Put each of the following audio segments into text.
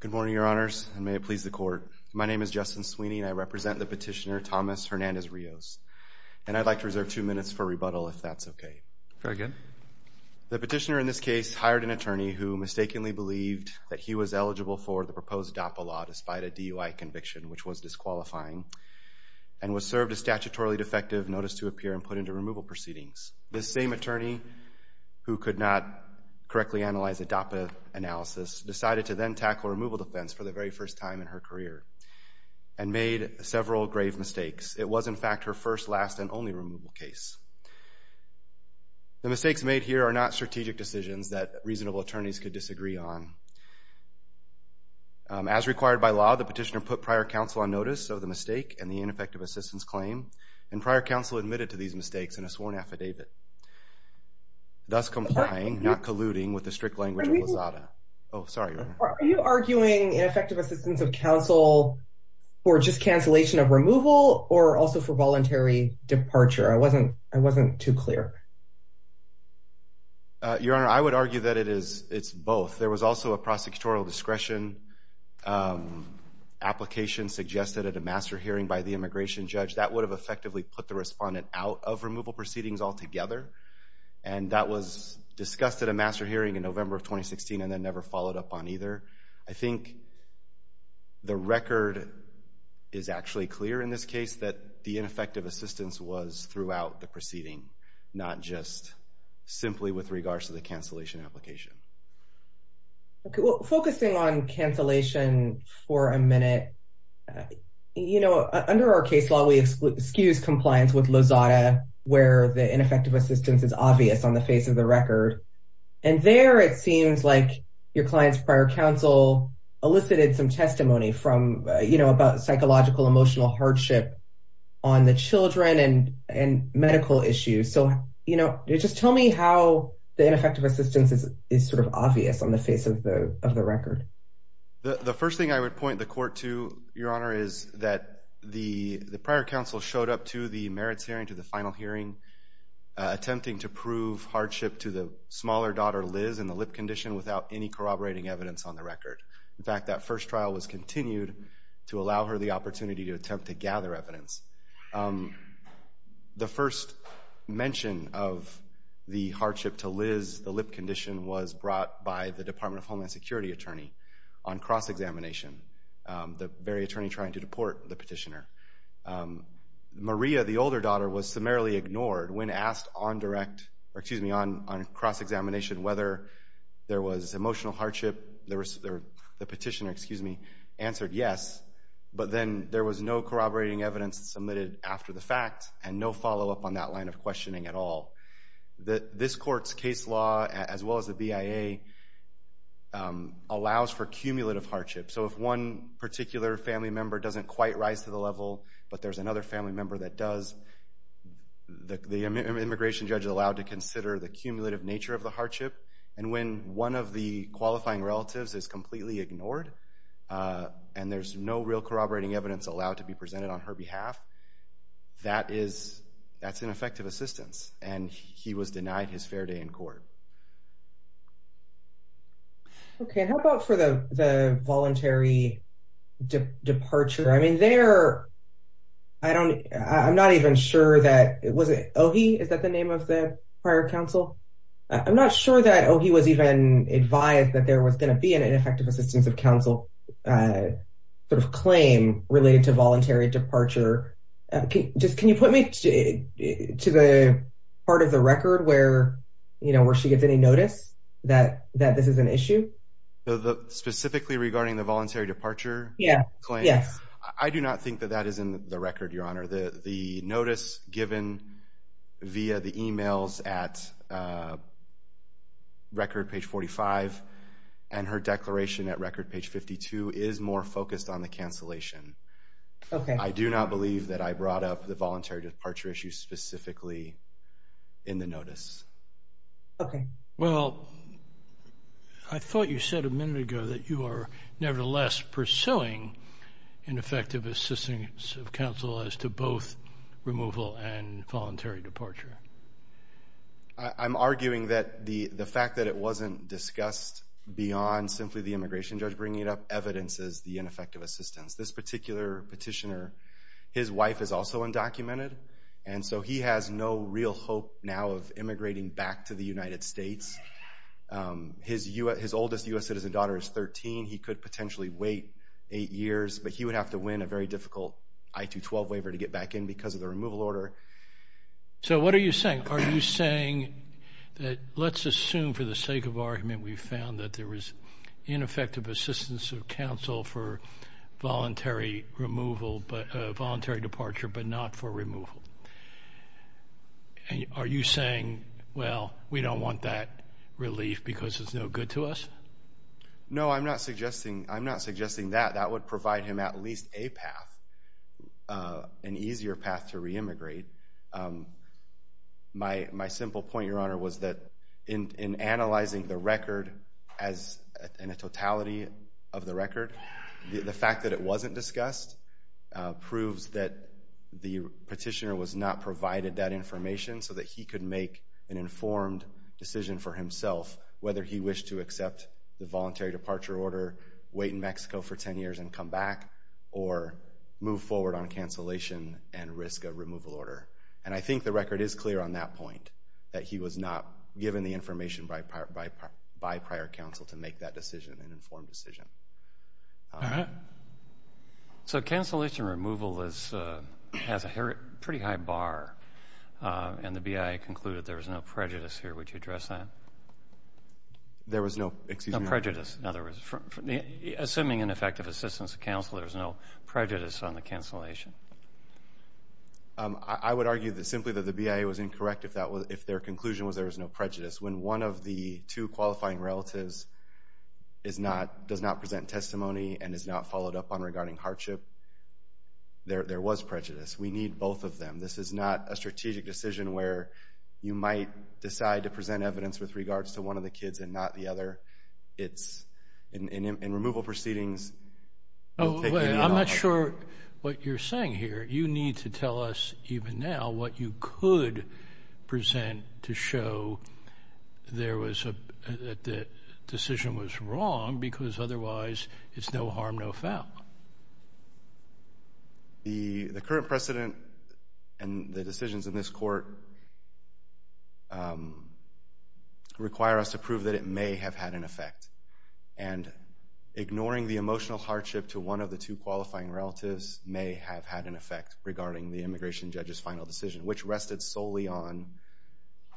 Good morning, Your Honors, and may it please the Court. My name is Justin Sweeney, and I represent the petitioner, Thomas Hernandez-Rios. And I'd like to reserve two minutes for rebuttal, if that's okay. Very good. The petitioner in this case hired an attorney who mistakenly believed that he was eligible for the proposed DAPA law despite a DUI conviction, which was disqualifying, and was served a statutorily defective notice to appear and put into removal proceedings. This same attorney, who could not correctly analyze the DAPA analysis, decided to then tackle removal defense for the very first time in her career and made several grave mistakes. It was, in fact, her first, last, and only removal case. The mistakes made here are not strategic decisions that reasonable attorneys could disagree on. As required by law, the petitioner put prior counsel on notice of the mistake and the ineffective assistance claim, and prior counsel admitted to these mistakes in a sworn affidavit, thus complying, not colluding, with the strict language of Lazada. Oh, sorry, Your Honor. Are you arguing ineffective assistance of counsel for just cancellation of removal or also for voluntary departure? I wasn't too clear. Your Honor, I would argue that it's both. There was also a prosecutorial discretion application suggested at a master hearing by the immigration judge. That would have effectively put the respondent out of removal proceedings altogether, and that was discussed at a master hearing in November of 2016 and then never followed up on either. I think the record is actually clear in this case that the ineffective assistance was throughout the proceeding, not just simply with regards to the cancellation application. Okay, well, focusing on cancellation for a minute, you know, under our case law, we excuse compliance with Lazada where the ineffective assistance is obvious on the face of the record, and there it seems like your client's prior counsel elicited some testimony from, you know, about psychological, emotional hardship on the children and medical issues. So, you know, just tell me how the ineffective assistance is sort of obvious on the face of the record. The first thing I would point the court to, Your Honor, is that the prior counsel showed up to the merits hearing, to the final hearing, attempting to prove hardship to the smaller daughter, Liz, in the lip condition without any corroborating evidence on the record. In fact, that first trial was continued to allow her the opportunity to attempt to gather evidence. The first mention of the hardship to Liz, the lip condition, was brought by the Department of Homeland Security attorney on cross-examination, the very attorney trying to deport the petitioner. Maria, the older daughter, was summarily ignored when asked on cross-examination whether there was emotional hardship. The petitioner, excuse me, answered yes, but then there was no corroborating evidence submitted after the fact and no follow-up on that line of questioning at all. This court's case law, as well as the BIA, allows for cumulative hardship. So if one particular family member doesn't quite rise to the level, but there's another family member that does, the immigration judge is allowed to consider the cumulative nature of the hardship. And when one of the qualifying relatives is completely ignored and there's no real corroborating evidence allowed to be presented on her behalf, that's ineffective assistance, and he was denied his fair day in court. Okay, how about for the voluntary departure? I mean, there, I don't, I'm not even sure that, was it Ohi? Is that the name of the prior counsel? I'm not sure that Ohi was even advised that there was going to be an ineffective assistance of counsel sort of claim related to voluntary departure. Just, can you put me to the part of the record where, you know, where she gets any notice that this is an issue? Specifically regarding the voluntary departure claim? Yes. I do not think that that is in the record, Your Honor. The notice given via the emails at record page 45 and her declaration at record page 52 is more focused on the cancellation. Okay. I do not believe that I brought up the voluntary departure issue specifically in the notice. Okay. Well, I thought you said a minute ago that you are nevertheless pursuing ineffective assistance of counsel as to both removal and voluntary departure. I'm arguing that the fact that it wasn't discussed beyond simply the immigration judge bringing up evidence as the ineffective assistance. This particular petitioner, his wife is also undocumented, and so he has no real hope now of immigrating back to the United States. His oldest U.S. citizen daughter is 13. He could potentially wait eight years, but he would have to win a very difficult I-212 waiver to get back in because of the removal order. So what are you saying? Are you saying that let's assume for the sake of argument we found that there was ineffective assistance of counsel for voluntary removal, voluntary departure, but not for removal. Are you saying, well, we don't want that relief because it's no good to us? No, I'm not suggesting that. That would provide him at least a path, an easier path to re-immigrate. My simple point, Your Honor, was that in analyzing the record and the totality of the record, the fact that it wasn't discussed proves that the petitioner was not provided that information so that he could make an informed decision for himself whether he wished to accept the voluntary departure order, wait in Mexico for 10 years and come back, or move forward on cancellation and risk a removal order. And I think the record is clear on that point, that he was not given the information by prior counsel to make that decision, an informed decision. All right. So cancellation and removal has a pretty high bar, and the BIA concluded there was no prejudice here. Would you address that? There was no prejudice. In other words, assuming ineffective assistance of counsel, there was no prejudice on the cancellation. I would argue simply that the BIA was incorrect if their conclusion was there was no prejudice. When one of the two qualifying relatives does not present testimony and is not followed up on regarding hardship, there was prejudice. We need both of them. This is not a strategic decision where you might decide to present evidence with regards to one of the kids and not the other. It's in removal proceedings. I'm not sure what you're saying here. You need to tell us even now what you could present to show that the decision was wrong because otherwise it's no harm, no foul. The current precedent and the decisions in this court require us to prove that it may have had an effect, and ignoring the emotional hardship to one of the two qualifying relatives may have had an effect regarding the immigration judge's final decision, which rested solely on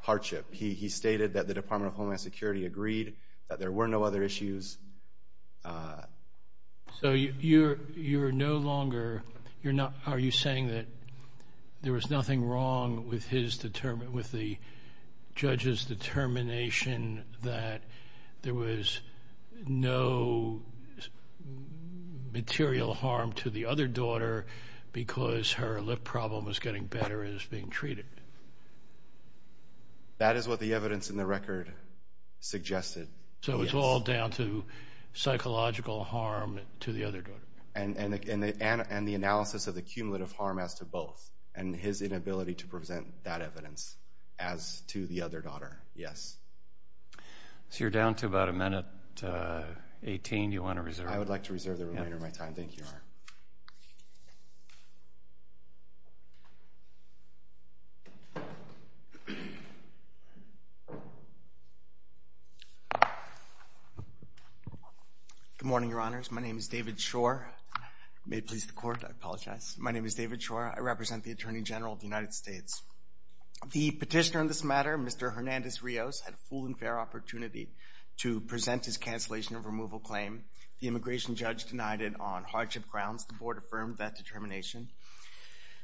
hardship. He stated that the Department of Homeland Security agreed that there were no other issues. So you're no longer saying that there was nothing wrong with the judge's determination that there was no material harm to the other daughter because her lip problem was getting better as being treated? That is what the evidence in the record suggested. So it's all down to psychological harm to the other daughter? And the analysis of the cumulative harm as to both and his inability to present that evidence as to the other daughter, yes. So you're down to about a minute, 18. Do you want to reserve? I would like to reserve the remainder of my time. Thank you, Your Honor. Good morning, Your Honors. My name is David Schor. May it please the Court, I apologize. My name is David Schor. I represent the Attorney General of the United States. The petitioner in this matter, Mr. Hernandez-Rios, had a full and fair opportunity to present his cancellation of removal claim. The immigration judge denied it on hardship grounds. The Board affirmed that determination.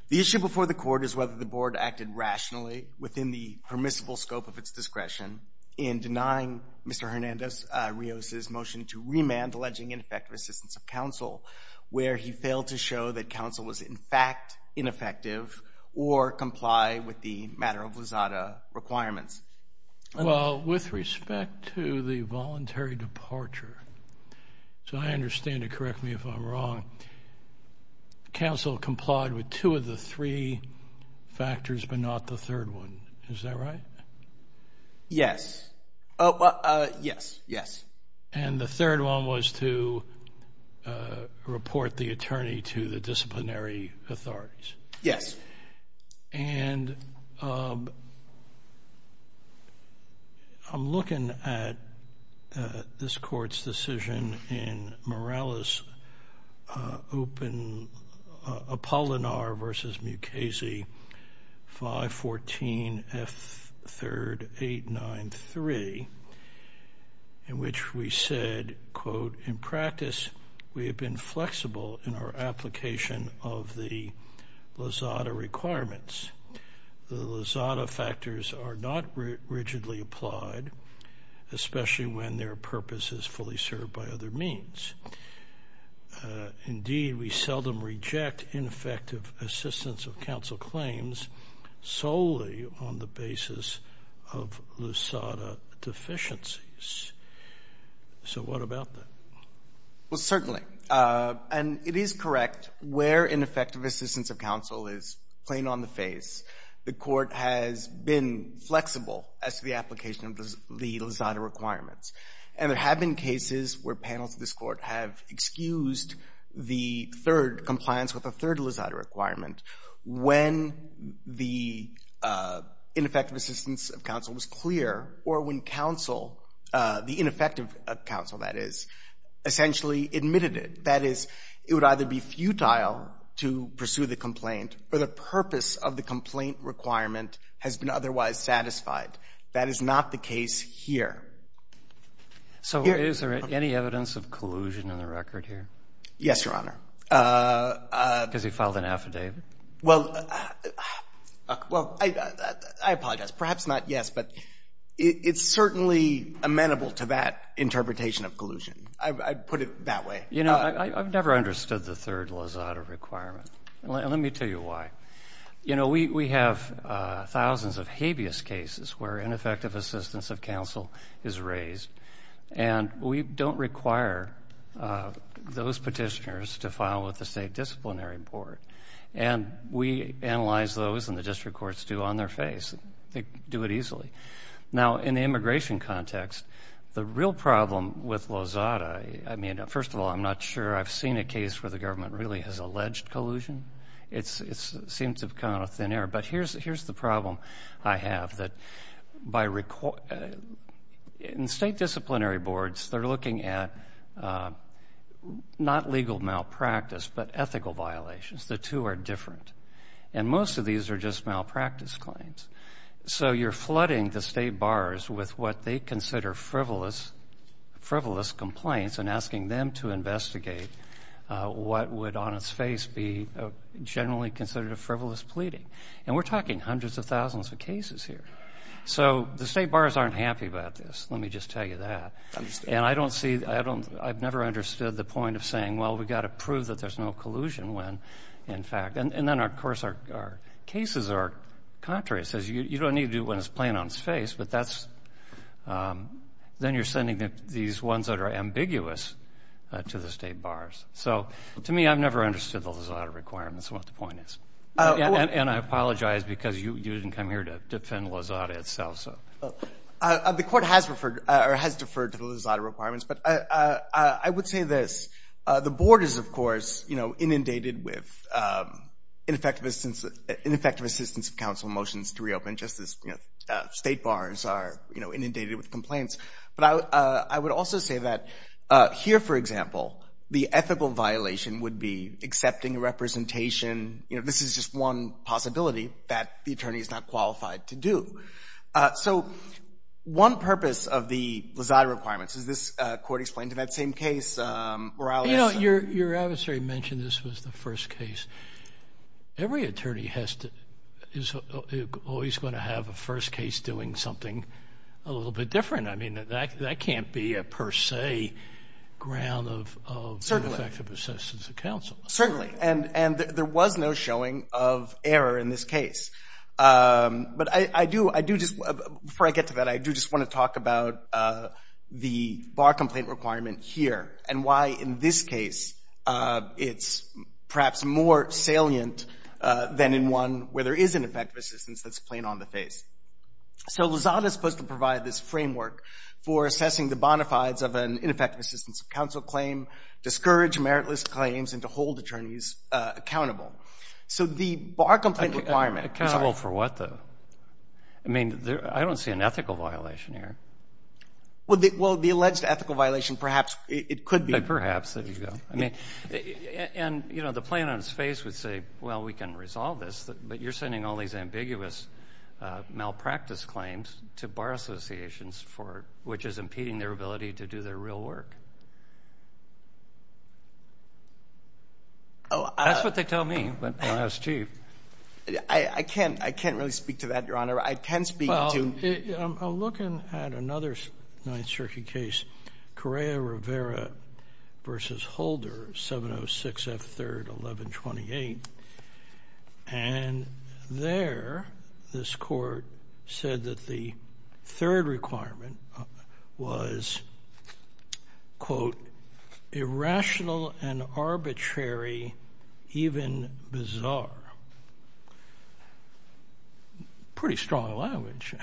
The issue before the Court is whether the Board acted rationally within the permissible scope of its discretion in denying Mr. Hernandez-Rios' motion to remand alleging ineffective assistance of counsel, where he failed to show that counsel was, in fact, ineffective or comply with the matter of WSSADA requirements. Well, with respect to the voluntary departure, so I understand it, correct me if I'm wrong, counsel complied with two of the three factors but not the third one. Is that right? Yes. Yes, yes. And the third one was to report the attorney to the disciplinary authorities. Yes. And I'm looking at this Court's decision in Morales' Apollinar v. Mukasey 514F3893 in which we said, quote, we have been flexible in our application of the WSSADA requirements. The WSSADA factors are not rigidly applied, especially when their purpose is fully served by other means. Indeed, we seldom reject ineffective assistance of counsel claims solely on the basis of WSSADA deficiencies. So what about that? Well, certainly, and it is correct, where ineffective assistance of counsel is plain on the face, the Court has been flexible as to the application of the WSSADA requirements. And there have been cases where panels of this Court have excused the third compliance with the third WSSADA requirement when the ineffective assistance of counsel was clear or when counsel, the ineffective counsel, that is, essentially admitted it. That is, it would either be futile to pursue the complaint or the purpose of the complaint requirement has been otherwise satisfied. That is not the case here. So is there any evidence of collusion in the record here? Yes, Your Honor. Because he filed an affidavit? Well, I apologize. Perhaps not yes, but it's certainly amenable to that interpretation of collusion. I'd put it that way. You know, I've never understood the third WSSADA requirement. And let me tell you why. You know, we have thousands of habeas cases where ineffective assistance of counsel is raised. And we don't require those Petitioners to file with the State Disciplinary Board. And we analyze those, and the district courts do, on their face. They do it easily. Now, in the immigration context, the real problem with WSSADA, I mean, first of all, I'm not sure I've seen a case where the government really has alleged collusion. It seems to have come out of thin air. But here's the problem I have, that in State Disciplinary Boards, they're looking at not legal malpractice but ethical violations. The two are different. And most of these are just malpractice claims. So you're flooding the State Bars with what they consider frivolous complaints and asking them to investigate what would, on its face, be generally considered a frivolous pleading. And we're talking hundreds of thousands of cases here. So the State Bars aren't happy about this, let me just tell you that. And I've never understood the point of saying, well, we've got to prove that there's no collusion when, in fact, and then, of course, our cases are contrary. It says you don't need to do it when it's plain on its face. But then you're sending these ones that are ambiguous to the State Bars. So, to me, I've never understood the WSSADA requirements and what the point is. And I apologize because you didn't come here to defend WSSADA itself. The Court has deferred to the WSSADA requirements. But I would say this. The Board is, of course, inundated with ineffective assistance of counsel motions to reopen, just as State Bars are inundated with complaints. But I would also say that here, for example, the ethical violation would be accepting representation. This is just one possibility that the attorney is not qualified to do. So, one purpose of the WSSADA requirements. Is this court explained to that same case? Your adversary mentioned this was the first case. Every attorney is always going to have a first case doing something a little bit different. I mean, that can't be a per se ground of ineffective assistance of counsel. Certainly. And there was no showing of error in this case. But before I get to that, I do just want to talk about the bar complaint requirement here and why, in this case, it's perhaps more salient than in one where there is ineffective assistance that's plain on the face. So, WSSADA is supposed to provide this framework for assessing the bona fides of an ineffective assistance of counsel claim, discourage meritless claims, and to hold attorneys accountable. So, the bar complaint requirement. Accountable for what, though? I mean, I don't see an ethical violation here. Well, the alleged ethical violation, perhaps it could be. Perhaps. And, you know, the plain on his face would say, well, we can resolve this. But you're sending all these ambiguous malpractice claims to bar associations, which is impeding their ability to do their real work. That's what they tell me. I can't really speak to that, Your Honor. I can speak to. I'm looking at another Ninth Circuit case, Correa Rivera v. Holder, 706 F. 3rd, 1128. And there, this court said that the third requirement was, quote, irrational and arbitrary, even bizarre. Pretty strong language.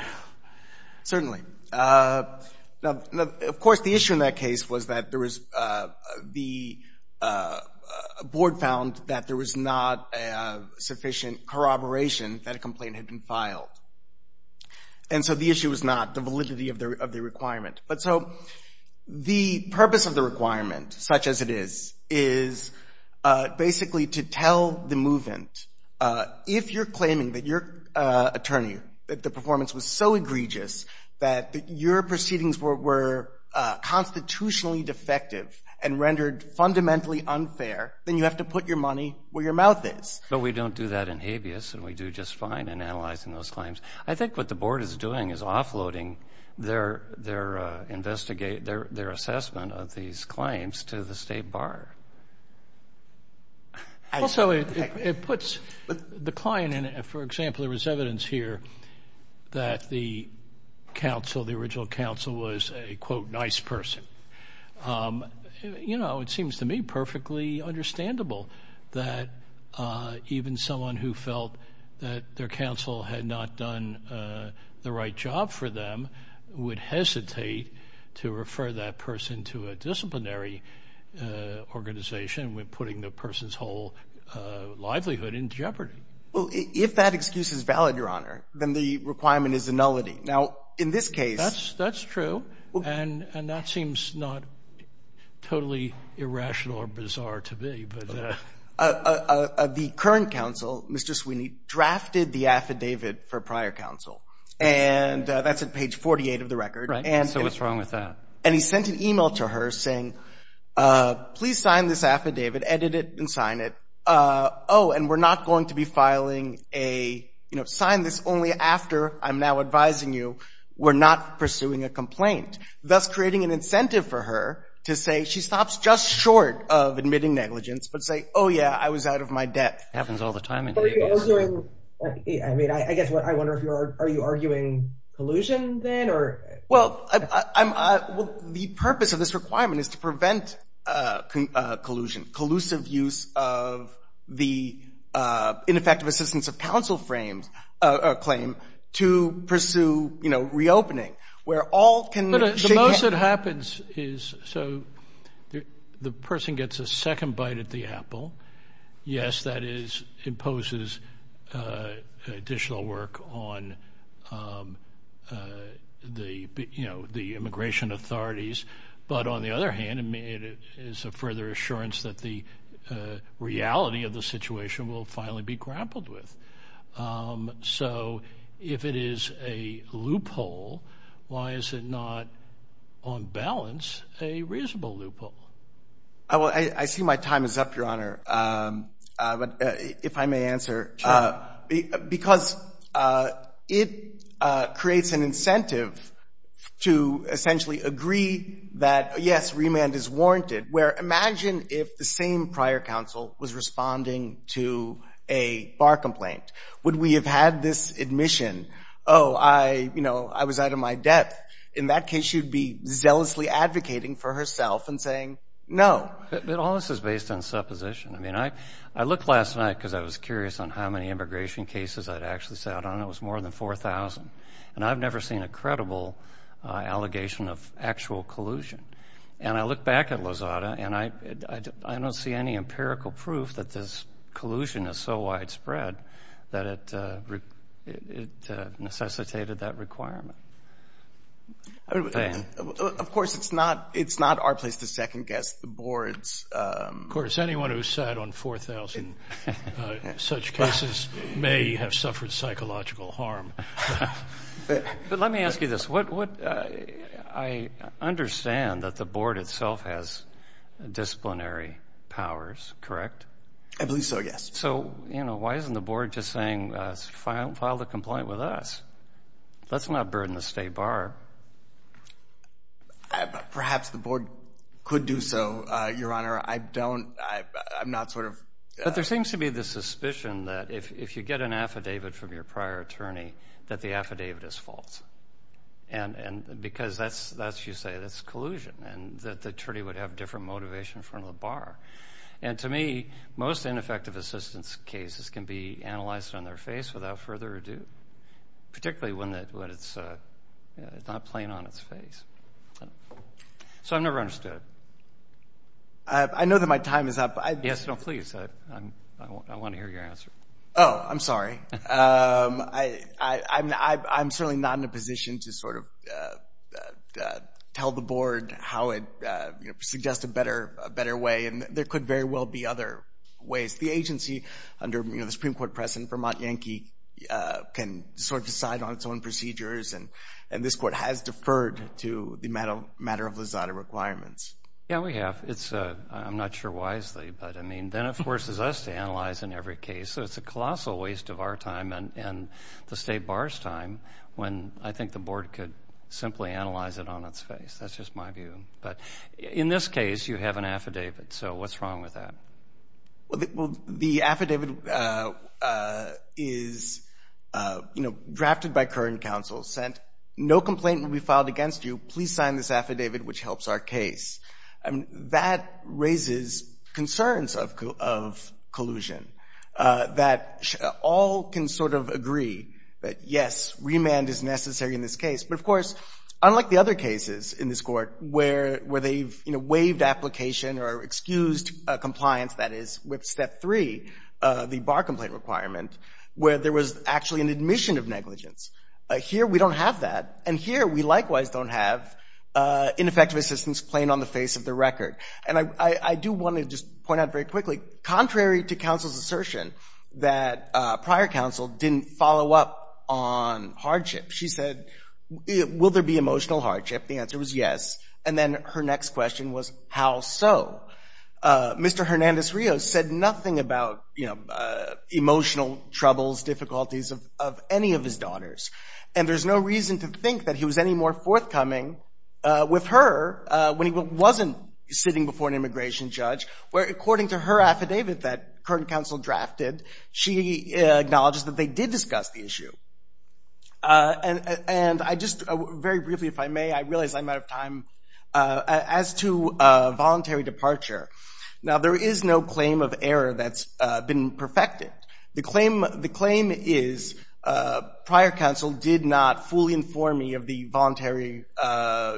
Certainly. Now, of course, the issue in that case was that there was the board found that there was not sufficient corroboration that a complaint had been filed. And so the issue was not the validity of the requirement. But so the purpose of the requirement, such as it is, is basically to tell the movement, if you're claiming that your attorney, that the performance was so egregious, that your proceedings were constitutionally defective and rendered fundamentally unfair, then you have to put your money where your mouth is. But we don't do that in habeas, and we do just fine in analyzing those claims. I think what the board is doing is offloading their assessment of these claims to the state bar. Also, it puts the client in it. For example, there was evidence here that the counsel, the original counsel, was a, quote, nice person. You know, it seems to me perfectly understandable that even someone who felt that their counsel had not done the right job for them would hesitate to refer that person to a disciplinary organization, putting the person's whole livelihood in jeopardy. Well, if that excuse is valid, Your Honor, then the requirement is a nullity. Now, in this case. That's true. And that seems not totally irrational or bizarre to me. The current counsel, Mr. Sweeney, drafted the affidavit for prior counsel. And that's at page 48 of the record. Right. So what's wrong with that? And he sent an e-mail to her saying, please sign this affidavit, edit it, and sign it. Oh, and we're not going to be filing a, you know, sign this only after I'm now advising you we're not pursuing a complaint, thus creating an incentive for her to say she stops just short of admitting negligence but say, oh, yeah, I was out of my debt. Happens all the time in habeas. I mean, I guess what I wonder if you are, are you arguing collusion then? Well, the purpose of this requirement is to prevent collusion, collusive use of the ineffective assistance of counsel claims to pursue, you know, reopening where all can. The most that happens is so the person gets a second bite at the apple. Yes, that is imposes additional work on the, you know, the immigration authorities. But on the other hand, it is a further assurance that the reality of the situation will finally be grappled with. So if it is a loophole, why is it not on balance a reasonable loophole? I see my time is up, Your Honor, if I may answer. Because it creates an incentive to essentially agree that, yes, remand is warranted, where imagine if the same prior counsel was responding to a bar complaint. Would we have had this admission? Oh, I, you know, I was out of my debt. In that case, she would be zealously advocating for herself and saying no. But all this is based on supposition. I mean, I looked last night because I was curious on how many immigration cases I'd actually sat on. It was more than 4,000. And I've never seen a credible allegation of actual collusion. And I look back at Lozada and I don't see any empirical proof that this collusion is so widespread that it necessitated that requirement. Of course, it's not our place to second guess the board's. Of course, anyone who sat on 4,000 such cases may have suffered psychological harm. But let me ask you this. I understand that the board itself has disciplinary powers, correct? I believe so, yes. So, you know, why isn't the board just saying file the complaint with us? Let's not burden the state bar. Perhaps the board could do so, Your Honor. I don't, I'm not sort of. But there seems to be the suspicion that if you get an affidavit from your prior attorney, that the affidavit is false because that's, you say, that's collusion And to me, most ineffective assistance cases can be analyzed on their face without further ado, particularly when it's not plain on its face. So I've never understood it. I know that my time is up. Yes, no, please. I want to hear your answer. Oh, I'm sorry. I'm certainly not in a position to sort of tell the board how it suggests a better way. And there could very well be other ways. The agency under the Supreme Court precedent, Vermont Yankee, can sort of decide on its own procedures. And this court has deferred to the matter of Lizada requirements. Yeah, we have. I'm not sure wisely. But, I mean, then it forces us to analyze in every case. So it's a colossal waste of our time and the state bar's time when I think the board could simply analyze it on its face. That's just my view. But in this case, you have an affidavit. So what's wrong with that? Well, the affidavit is, you know, drafted by current counsel, sent, no complaint will be filed against you, please sign this affidavit, which helps our case. I mean, that raises concerns of collusion. That all can sort of agree that, yes, remand is necessary in this case. But, of course, unlike the other cases in this Court where they've, you know, waived application or excused compliance, that is, with Step 3, the bar complaint requirement, where there was actually an admission of negligence. Here we don't have that. And here we likewise don't have ineffective assistance plain on the face of the record. And I do want to just point out very quickly, contrary to counsel's assertion, that prior counsel didn't follow up on hardship. She said, will there be emotional hardship? The answer was yes. And then her next question was, how so? Mr. Hernandez-Rios said nothing about, you know, emotional troubles, difficulties of any of his daughters. And there's no reason to think that he was any more forthcoming with her when he wasn't sitting before an immigration judge, where according to her affidavit that current counsel drafted, she acknowledges that they did discuss the issue. And I just, very briefly, if I may, I realize I'm out of time. As to voluntary departure, now there is no claim of error that's been perfected. The claim is prior counsel did not fully inform me of the voluntary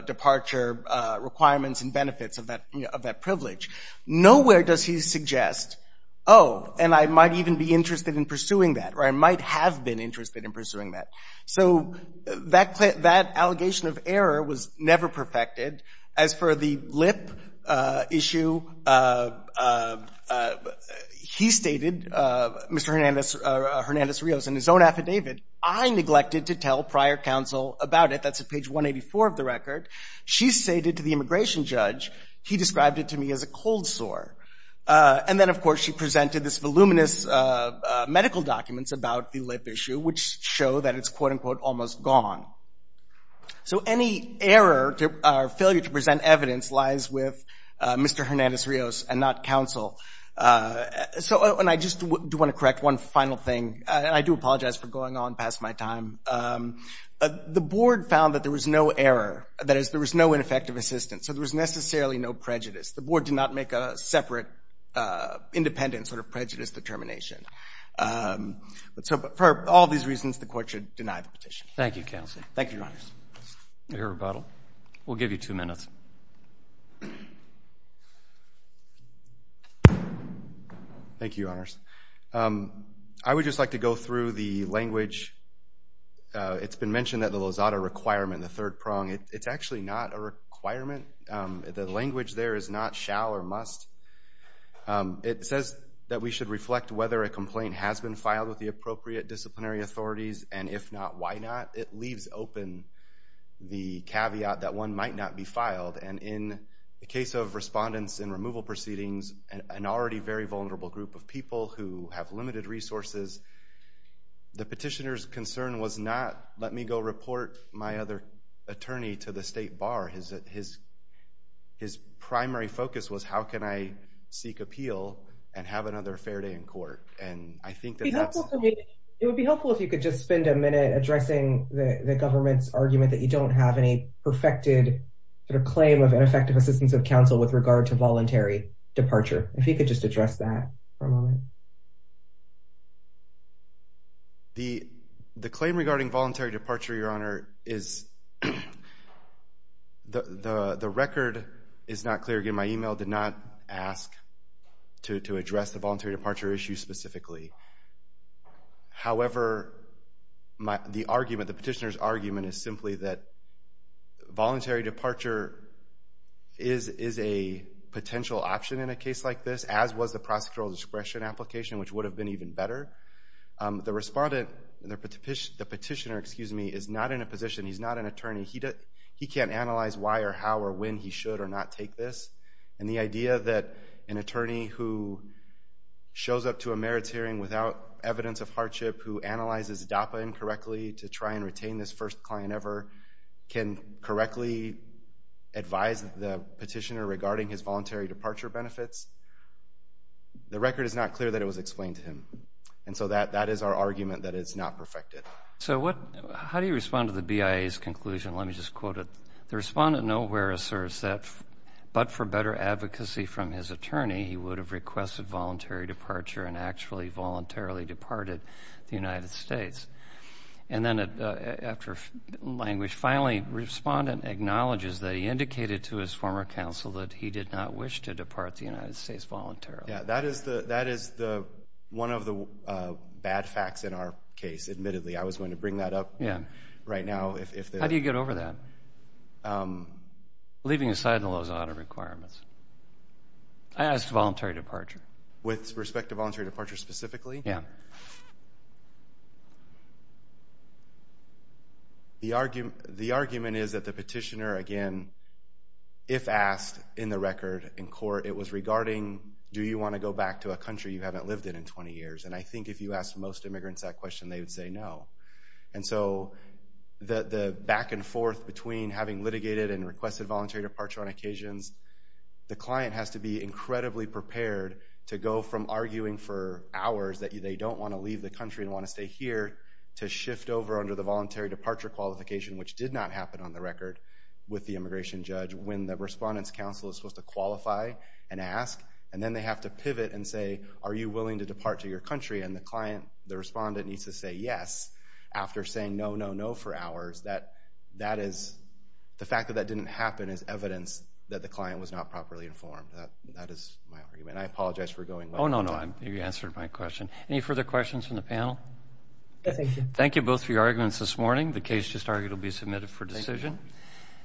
departure requirements and benefits of that privilege. Nowhere does he suggest, oh, and I might even be interested in pursuing that, or I might have been interested in pursuing that. So that allegation of error was never perfected. As for the lip issue, he stated, Mr. Hernandez-Rios, in his own affidavit, I neglected to tell prior counsel about it. That's at page 184 of the record. She stated to the immigration judge, he described it to me as a cold sore. And then, of course, she presented this voluminous medical documents about the lip issue, which show that it's, quote, unquote, almost gone. So any error or failure to present evidence lies with Mr. Hernandez-Rios and not counsel. And I just do want to correct one final thing, and I do apologize for going on past my time. The board found that there was no error, that is, there was no ineffective assistance. So there was necessarily no prejudice. The board did not make a separate, independent sort of prejudice determination. So for all these reasons, the court should deny the petition. Thank you, counsel. Thank you, Your Honors. Your rebuttal. We'll give you two minutes. Thank you, Your Honors. I would just like to go through the language. It's been mentioned that the Lozada requirement, the third prong, it's actually not a requirement. The language there is not shall or must. It says that we should reflect whether a complaint has been filed with the appropriate disciplinary authorities, and if not, why not? It leaves open the caveat that one might not be filed. And in the case of respondents in removal proceedings, an already very vulnerable group of people who have limited resources, the petitioner's concern was not, let me go report my other attorney to the state bar. His primary focus was, how can I seek appeal and have another fair day in court? And I think that that's… It would be helpful if you could just spend a minute addressing the government's argument that you don't have any perfected claim of ineffective assistance of counsel with regard to voluntary departure. If you could just address that for a moment. The claim regarding voluntary departure, Your Honor, is the record is not clear. Again, my email did not ask to address the voluntary departure issue specifically. However, the argument, the petitioner's argument is simply that voluntary departure is a potential option in a case like this, as was the prosecutorial discretion application, which would have been even better. The respondent, the petitioner, excuse me, is not in a position, he's not an attorney. He can't analyze why or how or when he should or not take this. And the idea that an attorney who shows up to a merits hearing without evidence of hardship, who analyzes DAPA incorrectly to try and retain this first client ever, can correctly advise the petitioner regarding his voluntary departure benefits, the record is not clear that it was explained to him. And so that is our argument that it's not perfected. So how do you respond to the BIA's conclusion? Let me just quote it. The respondent nowhere asserts that but for better advocacy from his attorney, he would have requested voluntary departure and actually voluntarily departed the United States. And then after language finally, the respondent acknowledges that he indicated to his former counsel that he did not wish to depart the United States voluntarily. Yeah, that is one of the bad facts in our case, admittedly. I was going to bring that up right now. How do you get over that? Leaving aside the Lozada requirements. I asked voluntary departure. With respect to voluntary departure specifically? Yeah. The argument is that the petitioner, again, if asked in the record in court, it was regarding do you want to go back to a country you haven't lived in in 20 years. And I think if you asked most immigrants that question, they would say no. And so the back and forth between having litigated and requested voluntary departure on occasions, the client has to be incredibly prepared to go from arguing for hours that they don't want to leave the country and want to stay here to shift over under the voluntary departure qualification, which did not happen on the record with the immigration judge when the respondent's counsel is supposed to qualify and ask. And then they have to pivot and say are you willing to depart to your country? And the client, the respondent needs to say yes after saying no, no, no for hours. The fact that that didn't happen is evidence that the client was not properly informed. That is my argument. I apologize for going. Oh, no, no. You answered my question. Any further questions from the panel? Yes, thank you. Thank you both for your arguments this morning. The case just argued will be submitted for decision. Thank you.